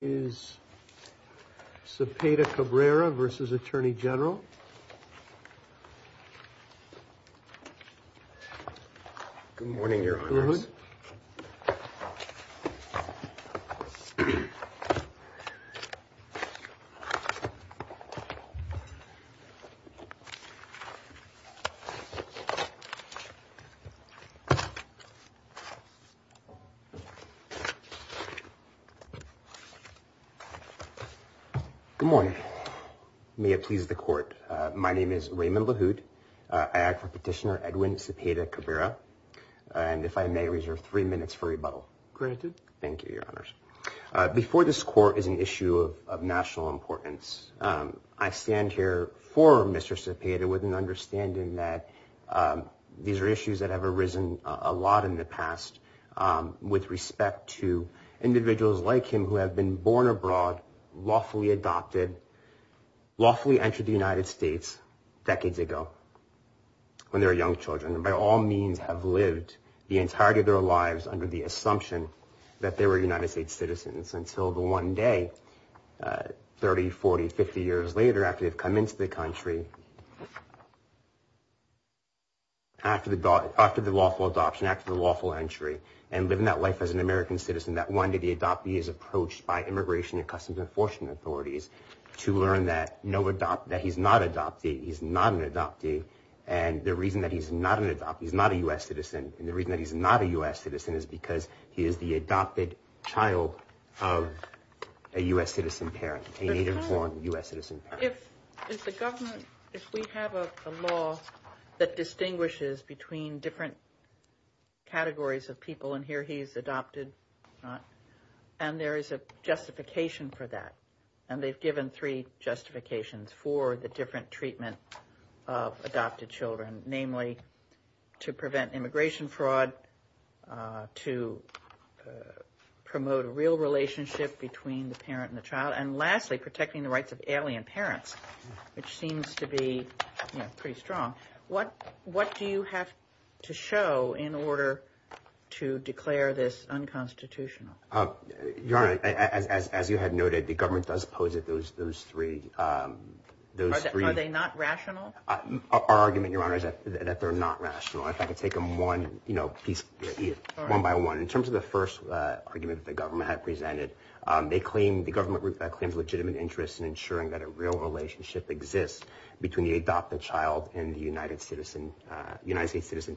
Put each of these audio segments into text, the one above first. is Cepeda Cabrera versus Attorney General. Good morning, Your Honor. Good morning. May it please the Court, my name is Raymond LaHood. I act for Petitioner Edwin Cepeda Cabrera. And if I may reserve three minutes for rebuttal. Granted. Thank you, Your Honors. Before this Court is an issue of national importance. I stand here for Mr. Cepeda with an understanding that these are issues that have arisen a lot in the past with respect to individuals like him who have been born abroad, lawfully adopted, lawfully entered the United States decades ago when they were young children and by all means have lived the entirety of their lives under the assumption that they were United States citizens until the one day, 30, 40, 50 years later after they've come into the country, after the lawful adoption, after the lawful entry and living that life as an American citizen that one day the adoptee is approached by immigration and customs enforcement authorities to learn that he's not adopted, he's not an adoptee. And the reason that he's not an adoptee, he's not a U.S. citizen. And the reason that he's not a U.S. citizen is because he is the adopted child of a U.S. citizen parent, a native-born U.S. citizen parent. If the government, if we have a law that distinguishes between different categories of people, and here he's adopted, and there is a justification for that, and they've given three justifications for the different treatment of adopted children, namely to prevent immigration fraud, to promote a real relationship between the parent and the child, and lastly protecting the rights of alien parents, which seems to be pretty strong. What do you have to show in order to declare this unconstitutional? Your Honor, as you had noted, the government does pose it those three. Are they not rational? Our argument, Your Honor, is that they're not rational. If I could take them one piece, one by one. In terms of the first argument that the government had presented, they claim, the government claims legitimate interest in ensuring that a real relationship exists between the adopted child and the United States citizen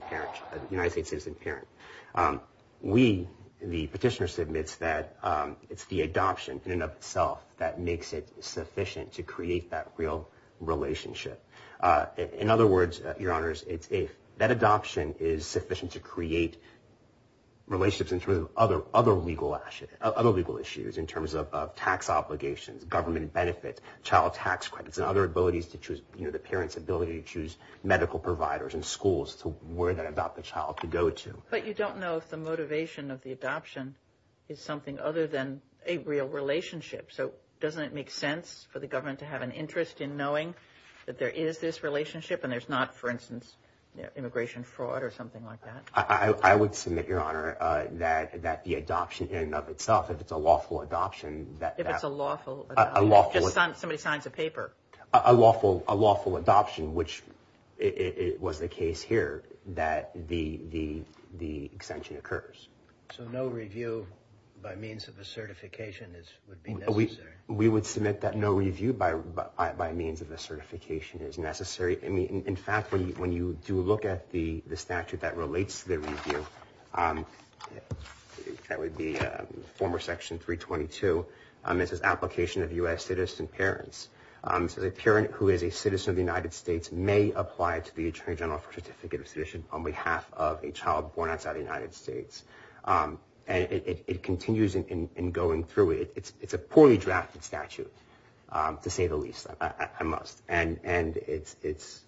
parent. We, the petitioner, submits that it's the adoption in and of itself that makes it sufficient to create that real relationship. In other words, Your Honors, that adoption is sufficient to create relationships in terms of other legal issues, in terms of tax obligations, government benefits, child tax credits, and other abilities to choose, you know, the parent's ability to choose medical providers and schools to where that adopted child could go to. But you don't know if the motivation of the adoption is something other than a real relationship. So doesn't it make sense for the government to have an interest in knowing that there is this relationship and there's not, for instance, immigration fraud or something like that? I would submit, Your Honor, that the adoption in and of itself, if it's a lawful adoption. If it's a lawful adoption. Somebody signs a paper. A lawful adoption, which was the case here, that the extension occurs. So no review by means of a certification would be necessary? We would submit that no review by means of a certification is necessary. In fact, when you do look at the statute that relates to the review, that would be former section 322, it says application of U.S. citizen parents. It says a parent who is a citizen of the United States may apply to the Attorney General for a certificate of citizenship on behalf of a child born outside the United States. And it continues in going through it. It's a poorly drafted statute, to say the least, I must. And it's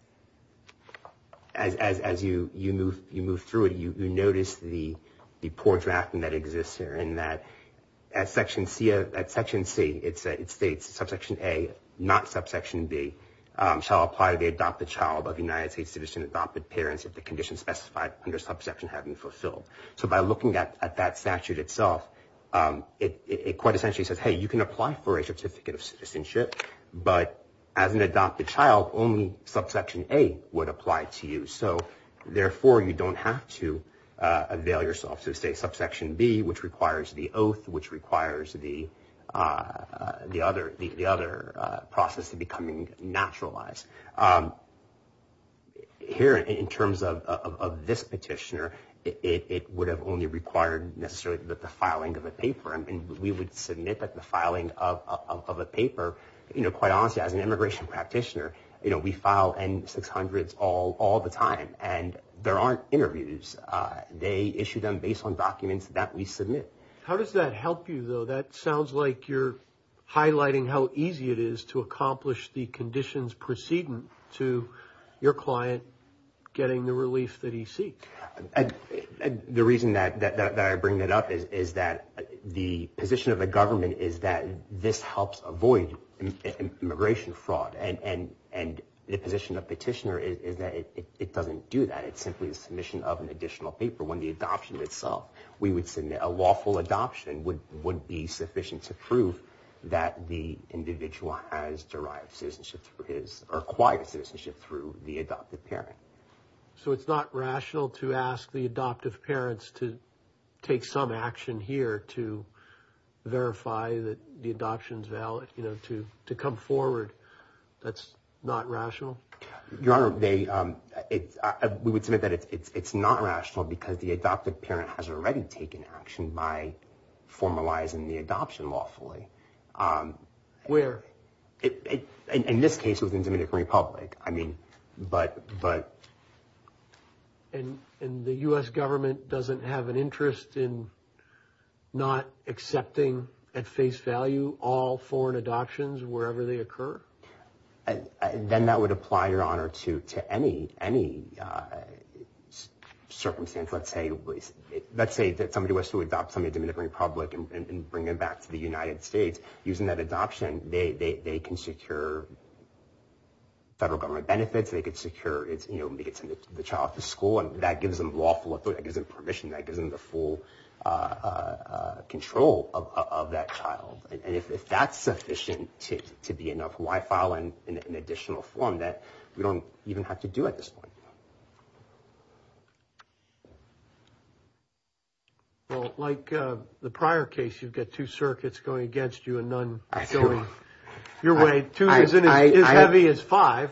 as you move through it, you notice the poor drafting that exists here, in that at section C, it states subsection A, not subsection B, shall apply to the adopted child of United States citizen adopted parents if the conditions specified under subsection have been fulfilled. So by looking at that statute itself, it quite essentially says, hey, you can apply for a certificate of citizenship, but as an adopted child, only subsection A would apply to you. So therefore, you don't have to avail yourself to, say, subsection B, which requires the oath, which requires the other process of becoming naturalized. Here, in terms of this petitioner, it would have only required necessarily the filing of a paper. I mean, we would submit the filing of a paper. You know, quite honestly, as an immigration practitioner, you know, we file N-600s all the time. And there aren't interviews. They issue them based on documents that we submit. How does that help you, though? That sounds like you're highlighting how easy it is to accomplish the conditions preceding to your client getting the relief that he seeks. The reason that I bring that up is that the position of the government is that this helps avoid immigration fraud. And the position of the petitioner is that it doesn't do that. It's simply a submission of an additional paper. When the adoption itself, we would submit a lawful adoption would be sufficient to prove that the individual has derived citizenship through his or acquired citizenship through the adopted parent. So it's not rational to ask the adoptive parents to take some action here to verify that the adoption is valid, you know, to come forward? That's not rational? Your Honor, we would submit that it's not rational because the adoptive parent has already taken action by formalizing the adoption lawfully. Where? In this case, it was in the Dominican Republic. I mean, but. And the U.S. government doesn't have an interest in not accepting at face value all foreign adoptions wherever they occur? Then that would apply, Your Honor, to any circumstance. Let's say that somebody was to adopt somebody in the Dominican Republic and bring them back to the United States. Using that adoption, they can secure federal government benefits. They could secure, you know, they could send the child to school, and that gives them lawful authority. That gives them permission. That gives them the full control of that child. And if that's sufficient to be enough, why file an additional form that we don't even have to do at this point? Well, like the prior case, you've got two circuits going against you and none going your way. Two isn't as heavy as five.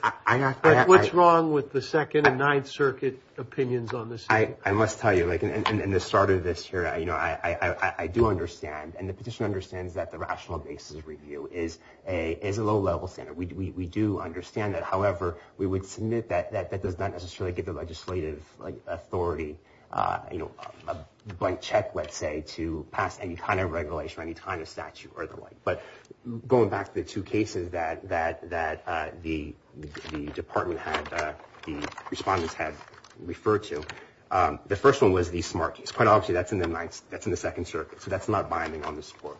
But what's wrong with the Second and Ninth Circuit opinions on this? I must tell you, like in the start of this here, you know, I do understand, and the petitioner understands that the rational basis review is a low-level standard. We do understand that. However, we would submit that that does not necessarily give the legislative authority, you know, a blank check, let's say, to pass any kind of regulation or any kind of statute or the like. But going back to the two cases that the department had, the respondents had referred to, the first one was the Smart Keys. Quite obviously, that's in the Second Circuit, so that's not binding on this court.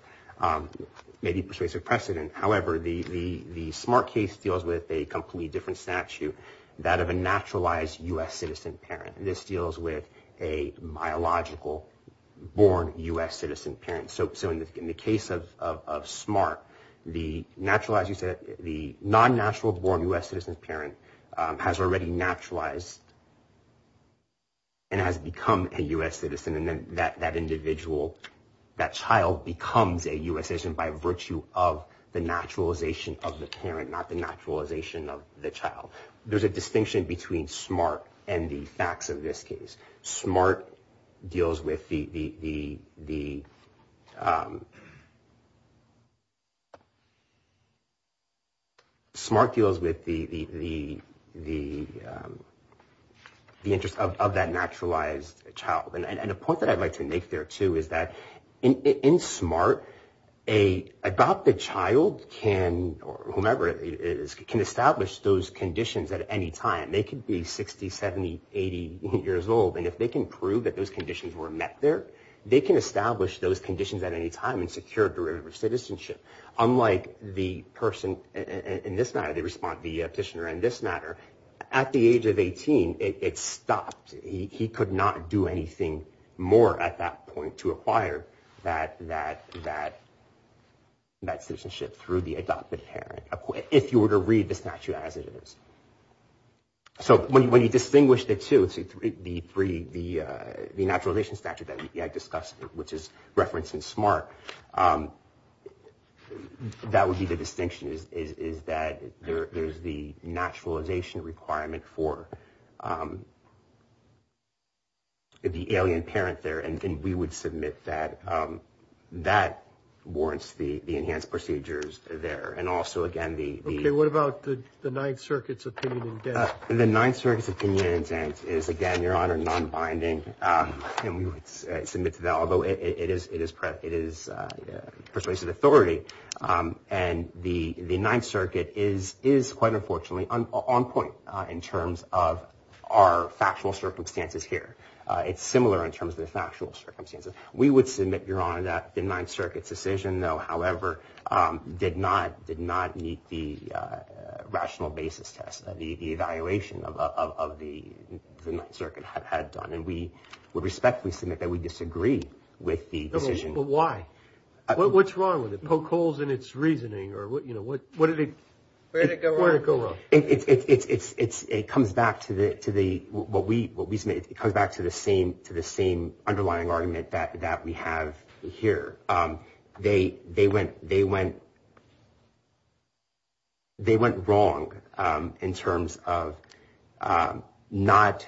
Maybe persuasive precedent. However, the Smart Keys deals with a completely different statute, that of a naturalized U.S. citizen parent. This deals with a biological-born U.S. citizen parent. So in the case of Smart, the naturalized, the non-natural-born U.S. citizen parent has already naturalized and has become a U.S. citizen. And then that individual, that child, becomes a U.S. citizen by virtue of the naturalization of the parent, not the naturalization of the child. There's a distinction between Smart and the facts of this case. Smart deals with the interest of that naturalized child. And a point that I'd like to make there, too, is that in Smart, an adopted child can, or whomever it is, can establish those conditions at any time. They can be 60, 70, 80 years old, and if they can prove that those conditions were met there, they can establish those conditions at any time and secure derivative citizenship. Unlike the person in this matter, the respondent, the petitioner in this matter, at the age of 18, it stopped. He could not do anything more at that point to acquire that citizenship through the adopted parent, if you were to read the statute as it is. So when you distinguish the two, the three, the naturalization statute that we had discussed, which is referenced in Smart, that would be the distinction, is that there's the naturalization requirement for the alien parent there. And we would submit that that warrants the enhanced procedures there. Okay, what about the Ninth Circuit's opinion indent? The Ninth Circuit's opinion indent is, again, Your Honor, nonbinding. And we would submit to that, although it is persuasive authority. And the Ninth Circuit is quite unfortunately on point in terms of our factual circumstances here. It's similar in terms of the factual circumstances. We would submit, Your Honor, that the Ninth Circuit's decision, though, however, did not meet the rational basis test, the evaluation of the Ninth Circuit had done. And we would respectfully submit that we disagree with the decision. But why? What's wrong with it? Poke holes in its reasoning? Where did it go wrong? It comes back to the same underlying argument that we have here. They went wrong in terms of not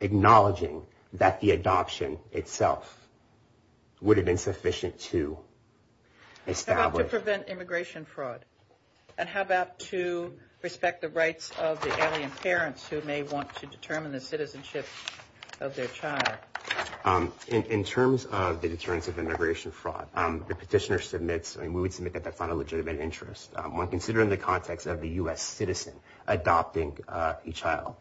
acknowledging that the adoption itself would have been sufficient to establish. How about to prevent immigration fraud? And how about to respect the rights of the alien parents who may want to determine the citizenship of their child? In terms of the deterrence of immigration fraud, the petitioner submits, and we would submit that that's not a legitimate interest, when considered in the context of the U.S. citizen adopting a child.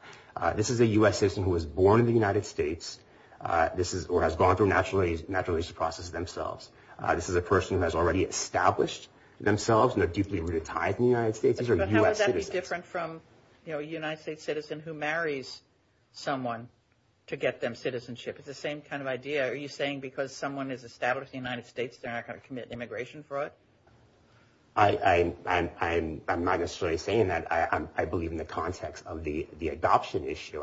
This is a U.S. citizen who was born in the United States or has gone through a naturalization process themselves. This is a person who has already established themselves and are deeply rooted in the United States. These are U.S. citizens. But how would that be different from a United States citizen who marries someone to get them citizenship? It's the same kind of idea. Are you saying because someone is established in the United States, they're not going to commit immigration fraud? I'm not necessarily saying that. I believe in the context of the adoption issue.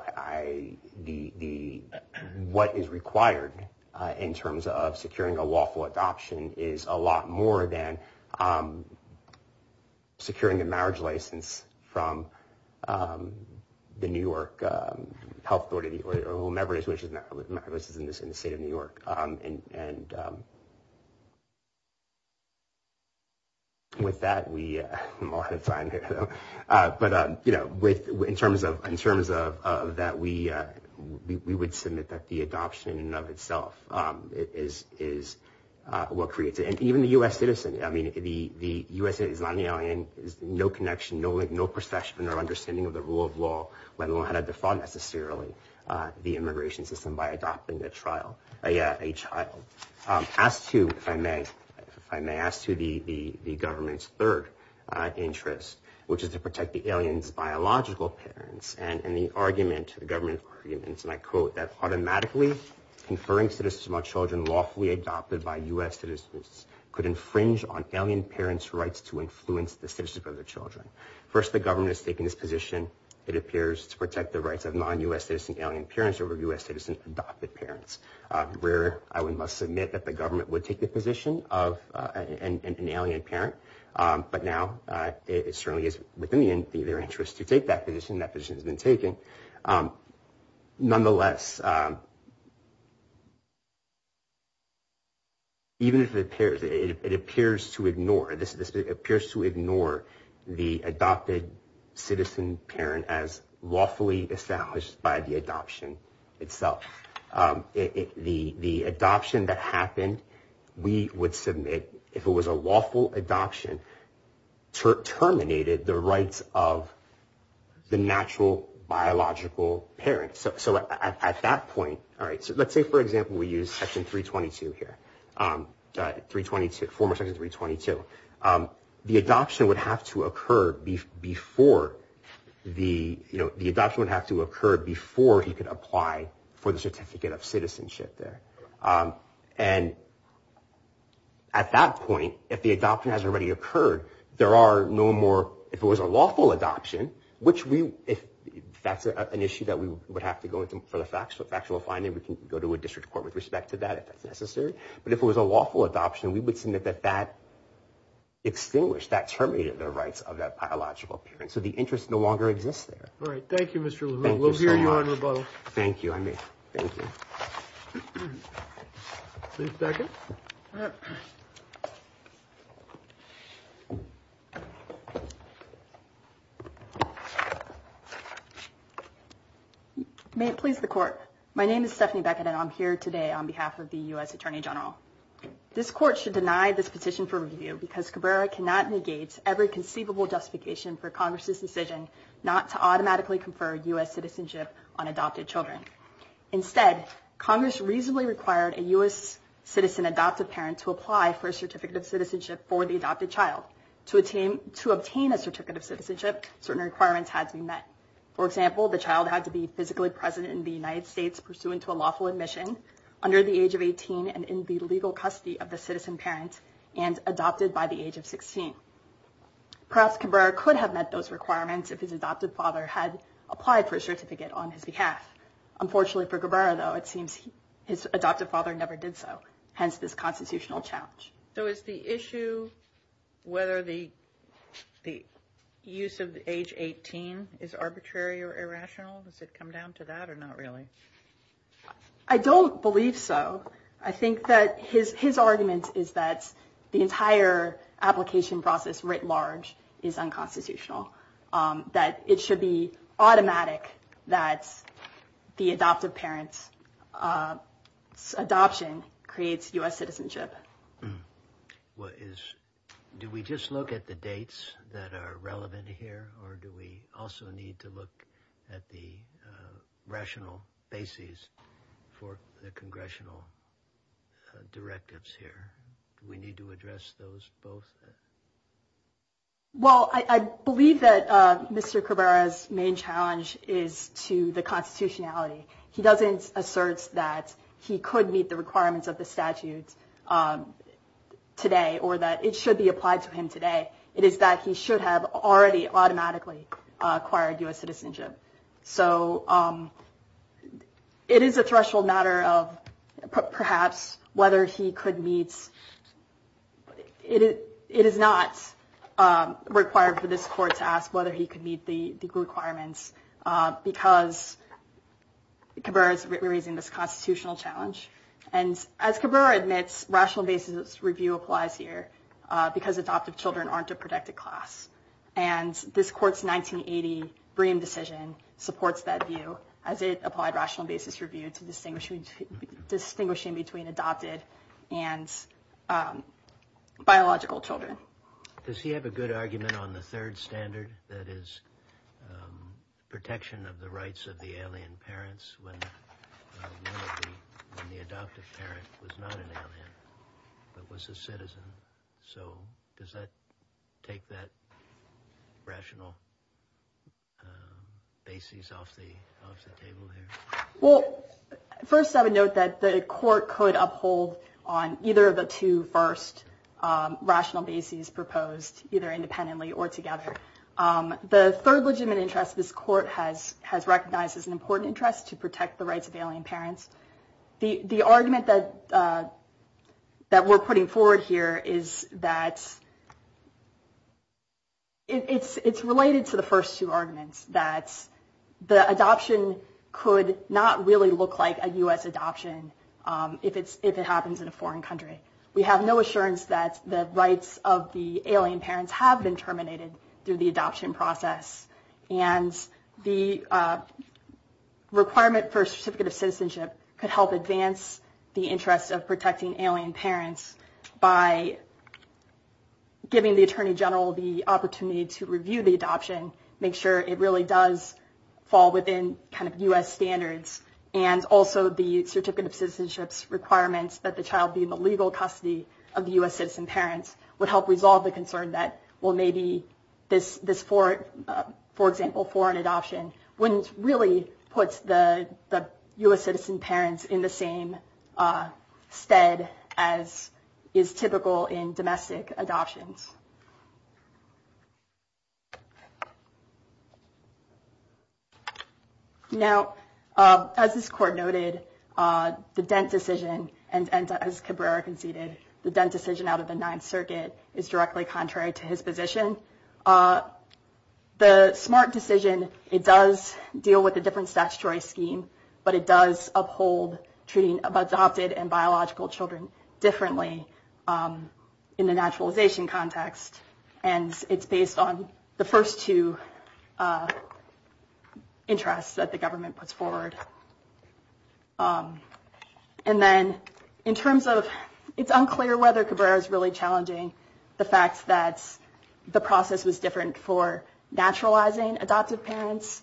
What is required in terms of securing a lawful adoption is a lot more than securing a marriage license from the New York Health Authority, or whoever it is in the state of New York. And with that, we are out of time here. But, you know, in terms of that, we would submit that the adoption in and of itself is what creates it. And even the U.S. citizen, I mean, the U.S. citizen is not an alien. There's no connection, no link, no perception or understanding of the rule of law, let alone how to defraud necessarily the immigration system by adopting a child. As to, if I may, if I may ask to the government's third interest, which is to protect the alien's biological parents and the argument, the government's arguments, and I quote, that automatically conferring citizenship on children lawfully adopted by U.S. citizens could infringe on alien parents' rights to influence the citizenship of their children. First, the government has taken this position. It appears to protect the rights of non-U.S. citizen alien parents over U.S. citizen adopted parents, where I must admit that the government would take the position of an alien parent. But now it certainly is within their interest to take that position. That position has been taken. Nonetheless, even if it appears, it appears to ignore, this appears to ignore the adopted citizen parent as lawfully established by the adoption itself. The adoption that happened, we would submit, if it was a lawful adoption, terminated the rights of the natural biological parents. So at that point, all right, so let's say, for example, we use Section 322 here, 322, former Section 322. The adoption would have to occur before the, you know, the adoption would have to occur before he could apply for the certificate of citizenship there. And at that point, if the adoption has already occurred, there are no more, if it was a lawful adoption, which we, if that's an issue that we would have to go into for the factual finding, we can go to a district court with respect to that if that's necessary. But if it was a lawful adoption, we would submit that that extinguished, that terminated the rights of that biological parent. So the interest no longer exists there. All right, thank you, Mr. Levine. Thank you so much. We'll hear you on rebuttal. Thank you. I mean, thank you. Please second. May it please the court. My name is Stephanie Beckett and I'm here today on behalf of the U.S. Attorney General. This court should deny this position for review because Cabrera cannot negate every conceivable justification for Congress' decision not to automatically confer U.S. citizenship on adopted children. Instead, Congress reasonably required a U.S. citizen adopted parent to apply for a certificate of citizenship for the adopted child. To obtain a certificate of citizenship, certain requirements had to be met. For example, the child had to be physically present in the United States pursuant to a lawful admission under the age of 18 and in the legal custody of the citizen parent and adopted by the age of 16. Perhaps Cabrera could have met those requirements if his adopted father had applied for a certificate on his behalf. Unfortunately for Cabrera, though, it seems his adopted father never did so, hence this constitutional challenge. So is the issue whether the use of age 18 is arbitrary or irrational? Does it come down to that or not really? I don't believe so. I think that his argument is that the entire application process writ large is unconstitutional, that it should be automatic that the adoptive parent's adoption creates U.S. citizenship. Do we just look at the dates that are relevant here? Or do we also need to look at the rational basis for the congressional directives here? Do we need to address those both? Well, I believe that Mr. Cabrera's main challenge is to the constitutionality. He doesn't assert that he could meet the requirements of the statute today or that it should be applied to him today. It is that he should have already automatically acquired U.S. citizenship. So it is a threshold matter of perhaps whether he could meet. It is not required for this court to ask whether he could meet the legal requirements because Cabrera is raising this constitutional challenge. And as Cabrera admits, rational basis review applies here because adoptive children aren't a protected class. And this court's 1980 Breem decision supports that view as it applied rational basis review to distinguish between adopted and biological children. Does he have a good argument on the third standard that is protection of the rights of the alien parents when the adoptive parent was not an alien but was a citizen? So does that take that rational basis off the table here? Well, first I would note that the court could uphold on either of the two first rational bases proposed, either independently or together. The third legitimate interest this court has recognized is an important interest to protect the rights of alien parents. The argument that we're putting forward here is that it's related to the first two arguments, that the adoption could not really look like a U.S. adoption if it happens in a foreign country. We have no assurance that the rights of the alien parents have been terminated through the adoption process. And the requirement for a certificate of citizenship could help advance the interest of protecting alien parents by giving the attorney general the opportunity to review the adoption, make sure it really does fall within U.S. standards, and also the certificate of citizenship's requirements that the child be in the legal custody of the U.S. citizen parents would help resolve the concern that, well, maybe this, for example, foreign adoption, wouldn't really put the U.S. citizen parents in the same stead as is typical in domestic adoptions. Now, as this court noted, the Dent decision, and as Cabrera conceded, the Dent decision out of the Ninth Circuit is directly contrary to his position. The Smart decision, it does deal with a different statutory scheme, but it does uphold treating of adopted and biological children differently in the naturalization context. And it's based on the first two interests that the government puts forward. And then in terms of it's unclear whether Cabrera is really challenging the fact that the process was different for naturalizing adoptive parents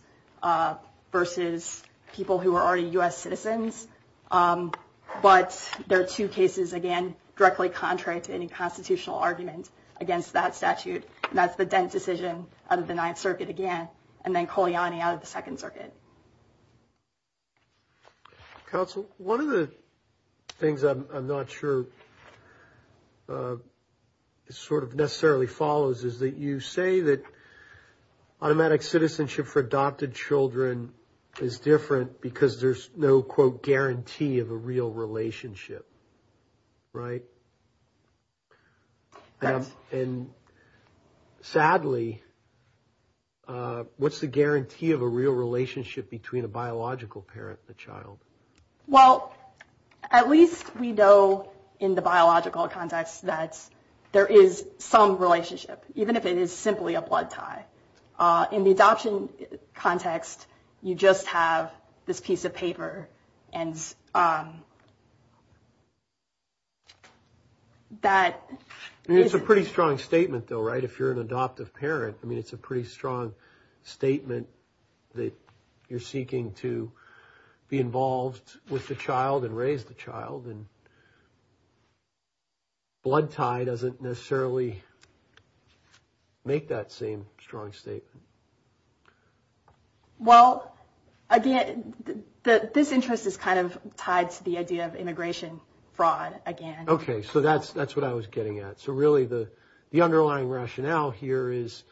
versus people who are already U.S. citizens. But there are two cases, again, directly contrary to any constitutional argument against that statute. And that's the Dent decision out of the Ninth Circuit, again, and then Kolyani out of the Second Circuit. Counsel, one of the things I'm not sure sort of necessarily follows is that you say that automatic citizenship for adopted children is different because there's no, quote, guarantee of a real relationship. Right? And sadly, what's the guarantee of a real relationship between a biological parent and the child? Well, at least we know in the biological context that there is some relationship, even if it is simply a blood tie. But in the adoption context, you just have this piece of paper. And that is a pretty strong statement, though. Right. If you're an adoptive parent, I mean, it's a pretty strong statement that you're seeking to be involved with the child and raise the child, and blood tie doesn't necessarily make that same strong statement. Well, again, this interest is kind of tied to the idea of immigration fraud, again. Okay. So that's what I was getting at. So really, the underlying rationale here is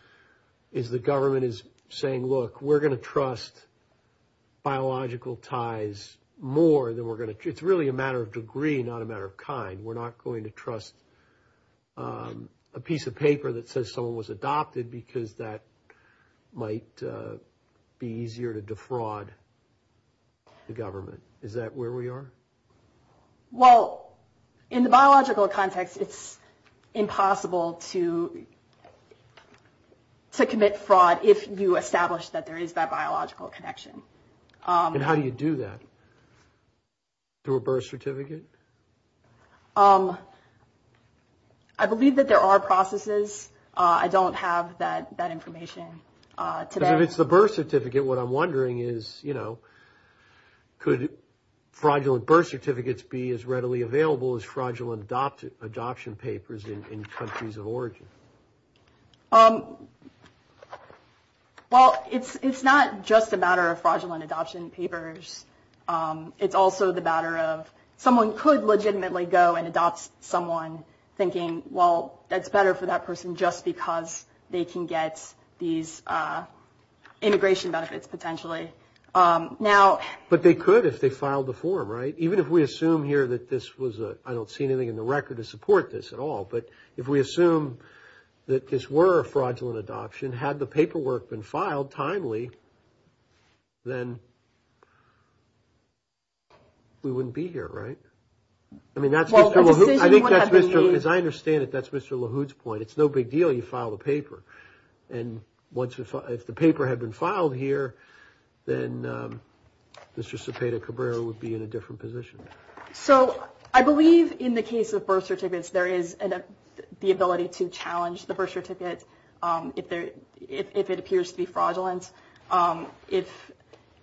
the government is saying, look, we're going to trust biological ties more than we're going to – it's really a matter of degree, not a matter of kind. We're not going to trust a piece of paper that says someone was adopted because that might be easier to defraud the government. Is that where we are? Well, in the biological context, it's impossible to commit fraud if you establish that there is that biological connection. And how do you do that? Through a birth certificate? I believe that there are processes. I don't have that information today. Because if it's the birth certificate, what I'm wondering is, you know, could fraudulent birth certificates be as readily available as fraudulent adoption papers in countries of origin? Well, it's not just a matter of fraudulent adoption papers. It's also the matter of someone could legitimately go and adopt someone thinking, well, that's better for that person just because they can get these integration benefits potentially. But they could if they filed the form, right? Even if we assume here that this was a – I don't see anything in the record to support this at all. But if we assume that this were a fraudulent adoption, had the paperwork been filed timely, then we wouldn't be here, right? I mean, that's – as I understand it, that's Mr. LaHood's point. It's no big deal if you file the paper. And if the paper had been filed here, then Mr. Cepeda-Cabrera would be in a different position. So I believe in the case of birth certificates, there is the ability to challenge the birth certificate if it appears to be fraudulent.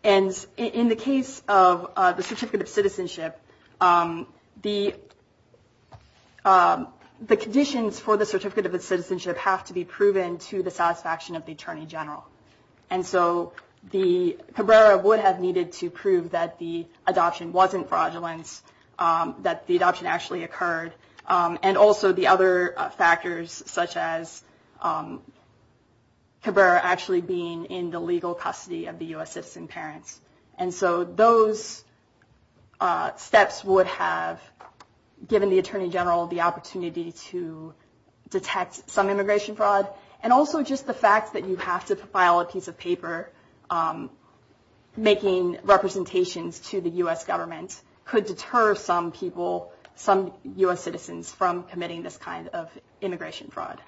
And in the case of the Certificate of Citizenship, the conditions for the Certificate of Citizenship have to be proven to the satisfaction of the Attorney General. And so Cabrera would have needed to prove that the adoption wasn't fraudulent, that the adoption actually occurred. And also the other factors, such as Cabrera actually being in the legal custody of the U.S. citizen parents. And so those steps would have given the Attorney General the opportunity to detect some immigration fraud. And also just the fact that you have to file a piece of paper making representations to the U.S. government could deter some people, some U.S. citizens, from committing this kind of immigration fraud.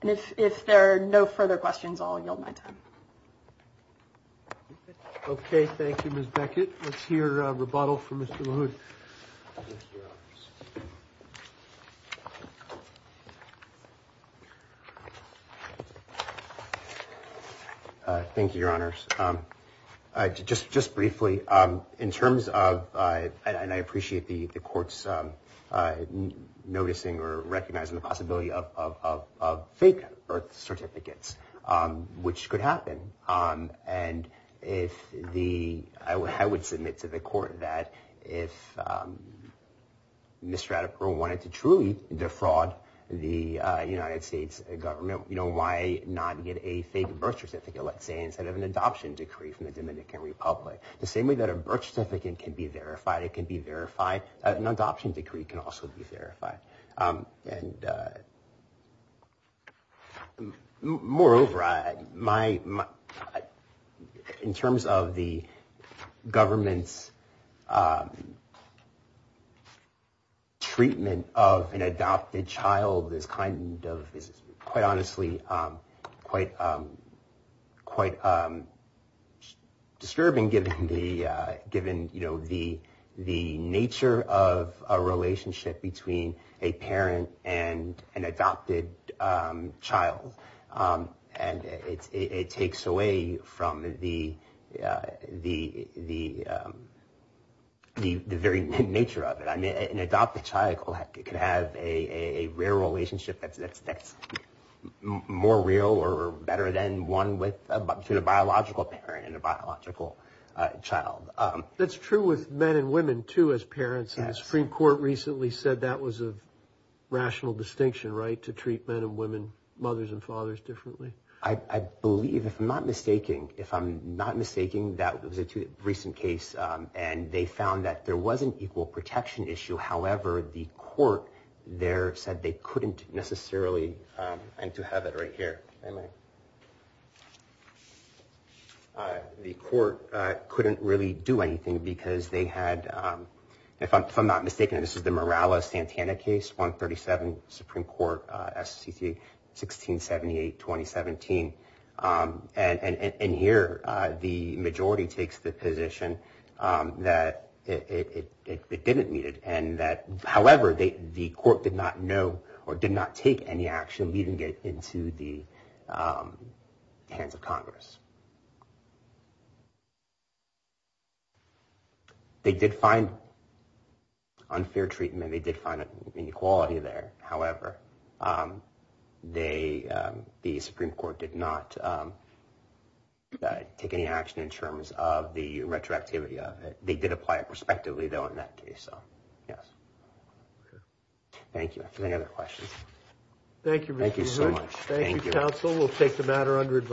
And if there are no further questions, I'll yield my time. OK, thank you, Ms. Beckett. Let's hear a rebuttal from Mr. LaHood. Thank you, Your Honors. Just briefly, in terms of, and I appreciate the courts noticing or recognizing the possibility of fake birth certificates, which could happen, and if the, I would submit to the court that if Ms. Stratipour wanted to truly defraud the United States government, you know, why not get a fake birth certificate, let's say, instead of an adoption decree from the Dominican Republic? The same way that a birth certificate can be verified, it can be verified, an adoption decree can also be verified. And moreover, my, in terms of the government's treatment of an adopted child is kind of, is quite honestly quite disturbing, given the, given, you know, the nature of a relationship between a parent and an adopted child. And it takes away from the very nature of it. I mean, an adopted child could have a rare relationship that's more real or better than one with a biological parent and a biological child. That's true with men and women, too, as parents. The Supreme Court recently said that was a rational distinction, right, to treat men and women, mothers and fathers, differently. I believe, if I'm not mistaking, if I'm not mistaking, that was a recent case, and they found that there was an equal protection issue. However, the court there said they couldn't necessarily, and to have it right here. The court couldn't really do anything because they had, if I'm not mistaken, this is the Morales-Santana case, 137, Supreme Court, SCC, 1678, 2017. And here, the majority takes the position that it didn't meet it, and that, however, the court did not know or did not take any action, so it didn't even get into the hands of Congress. They did find unfair treatment. They did find an inequality there. However, the Supreme Court did not take any action in terms of the retroactivity of it. They did apply it prospectively, though, in that case, so, yes. Okay. Thank you. Any other questions? Thank you, Mr. Chairman. Thank you so much. Thank you, counsel. We'll take the matter under advice.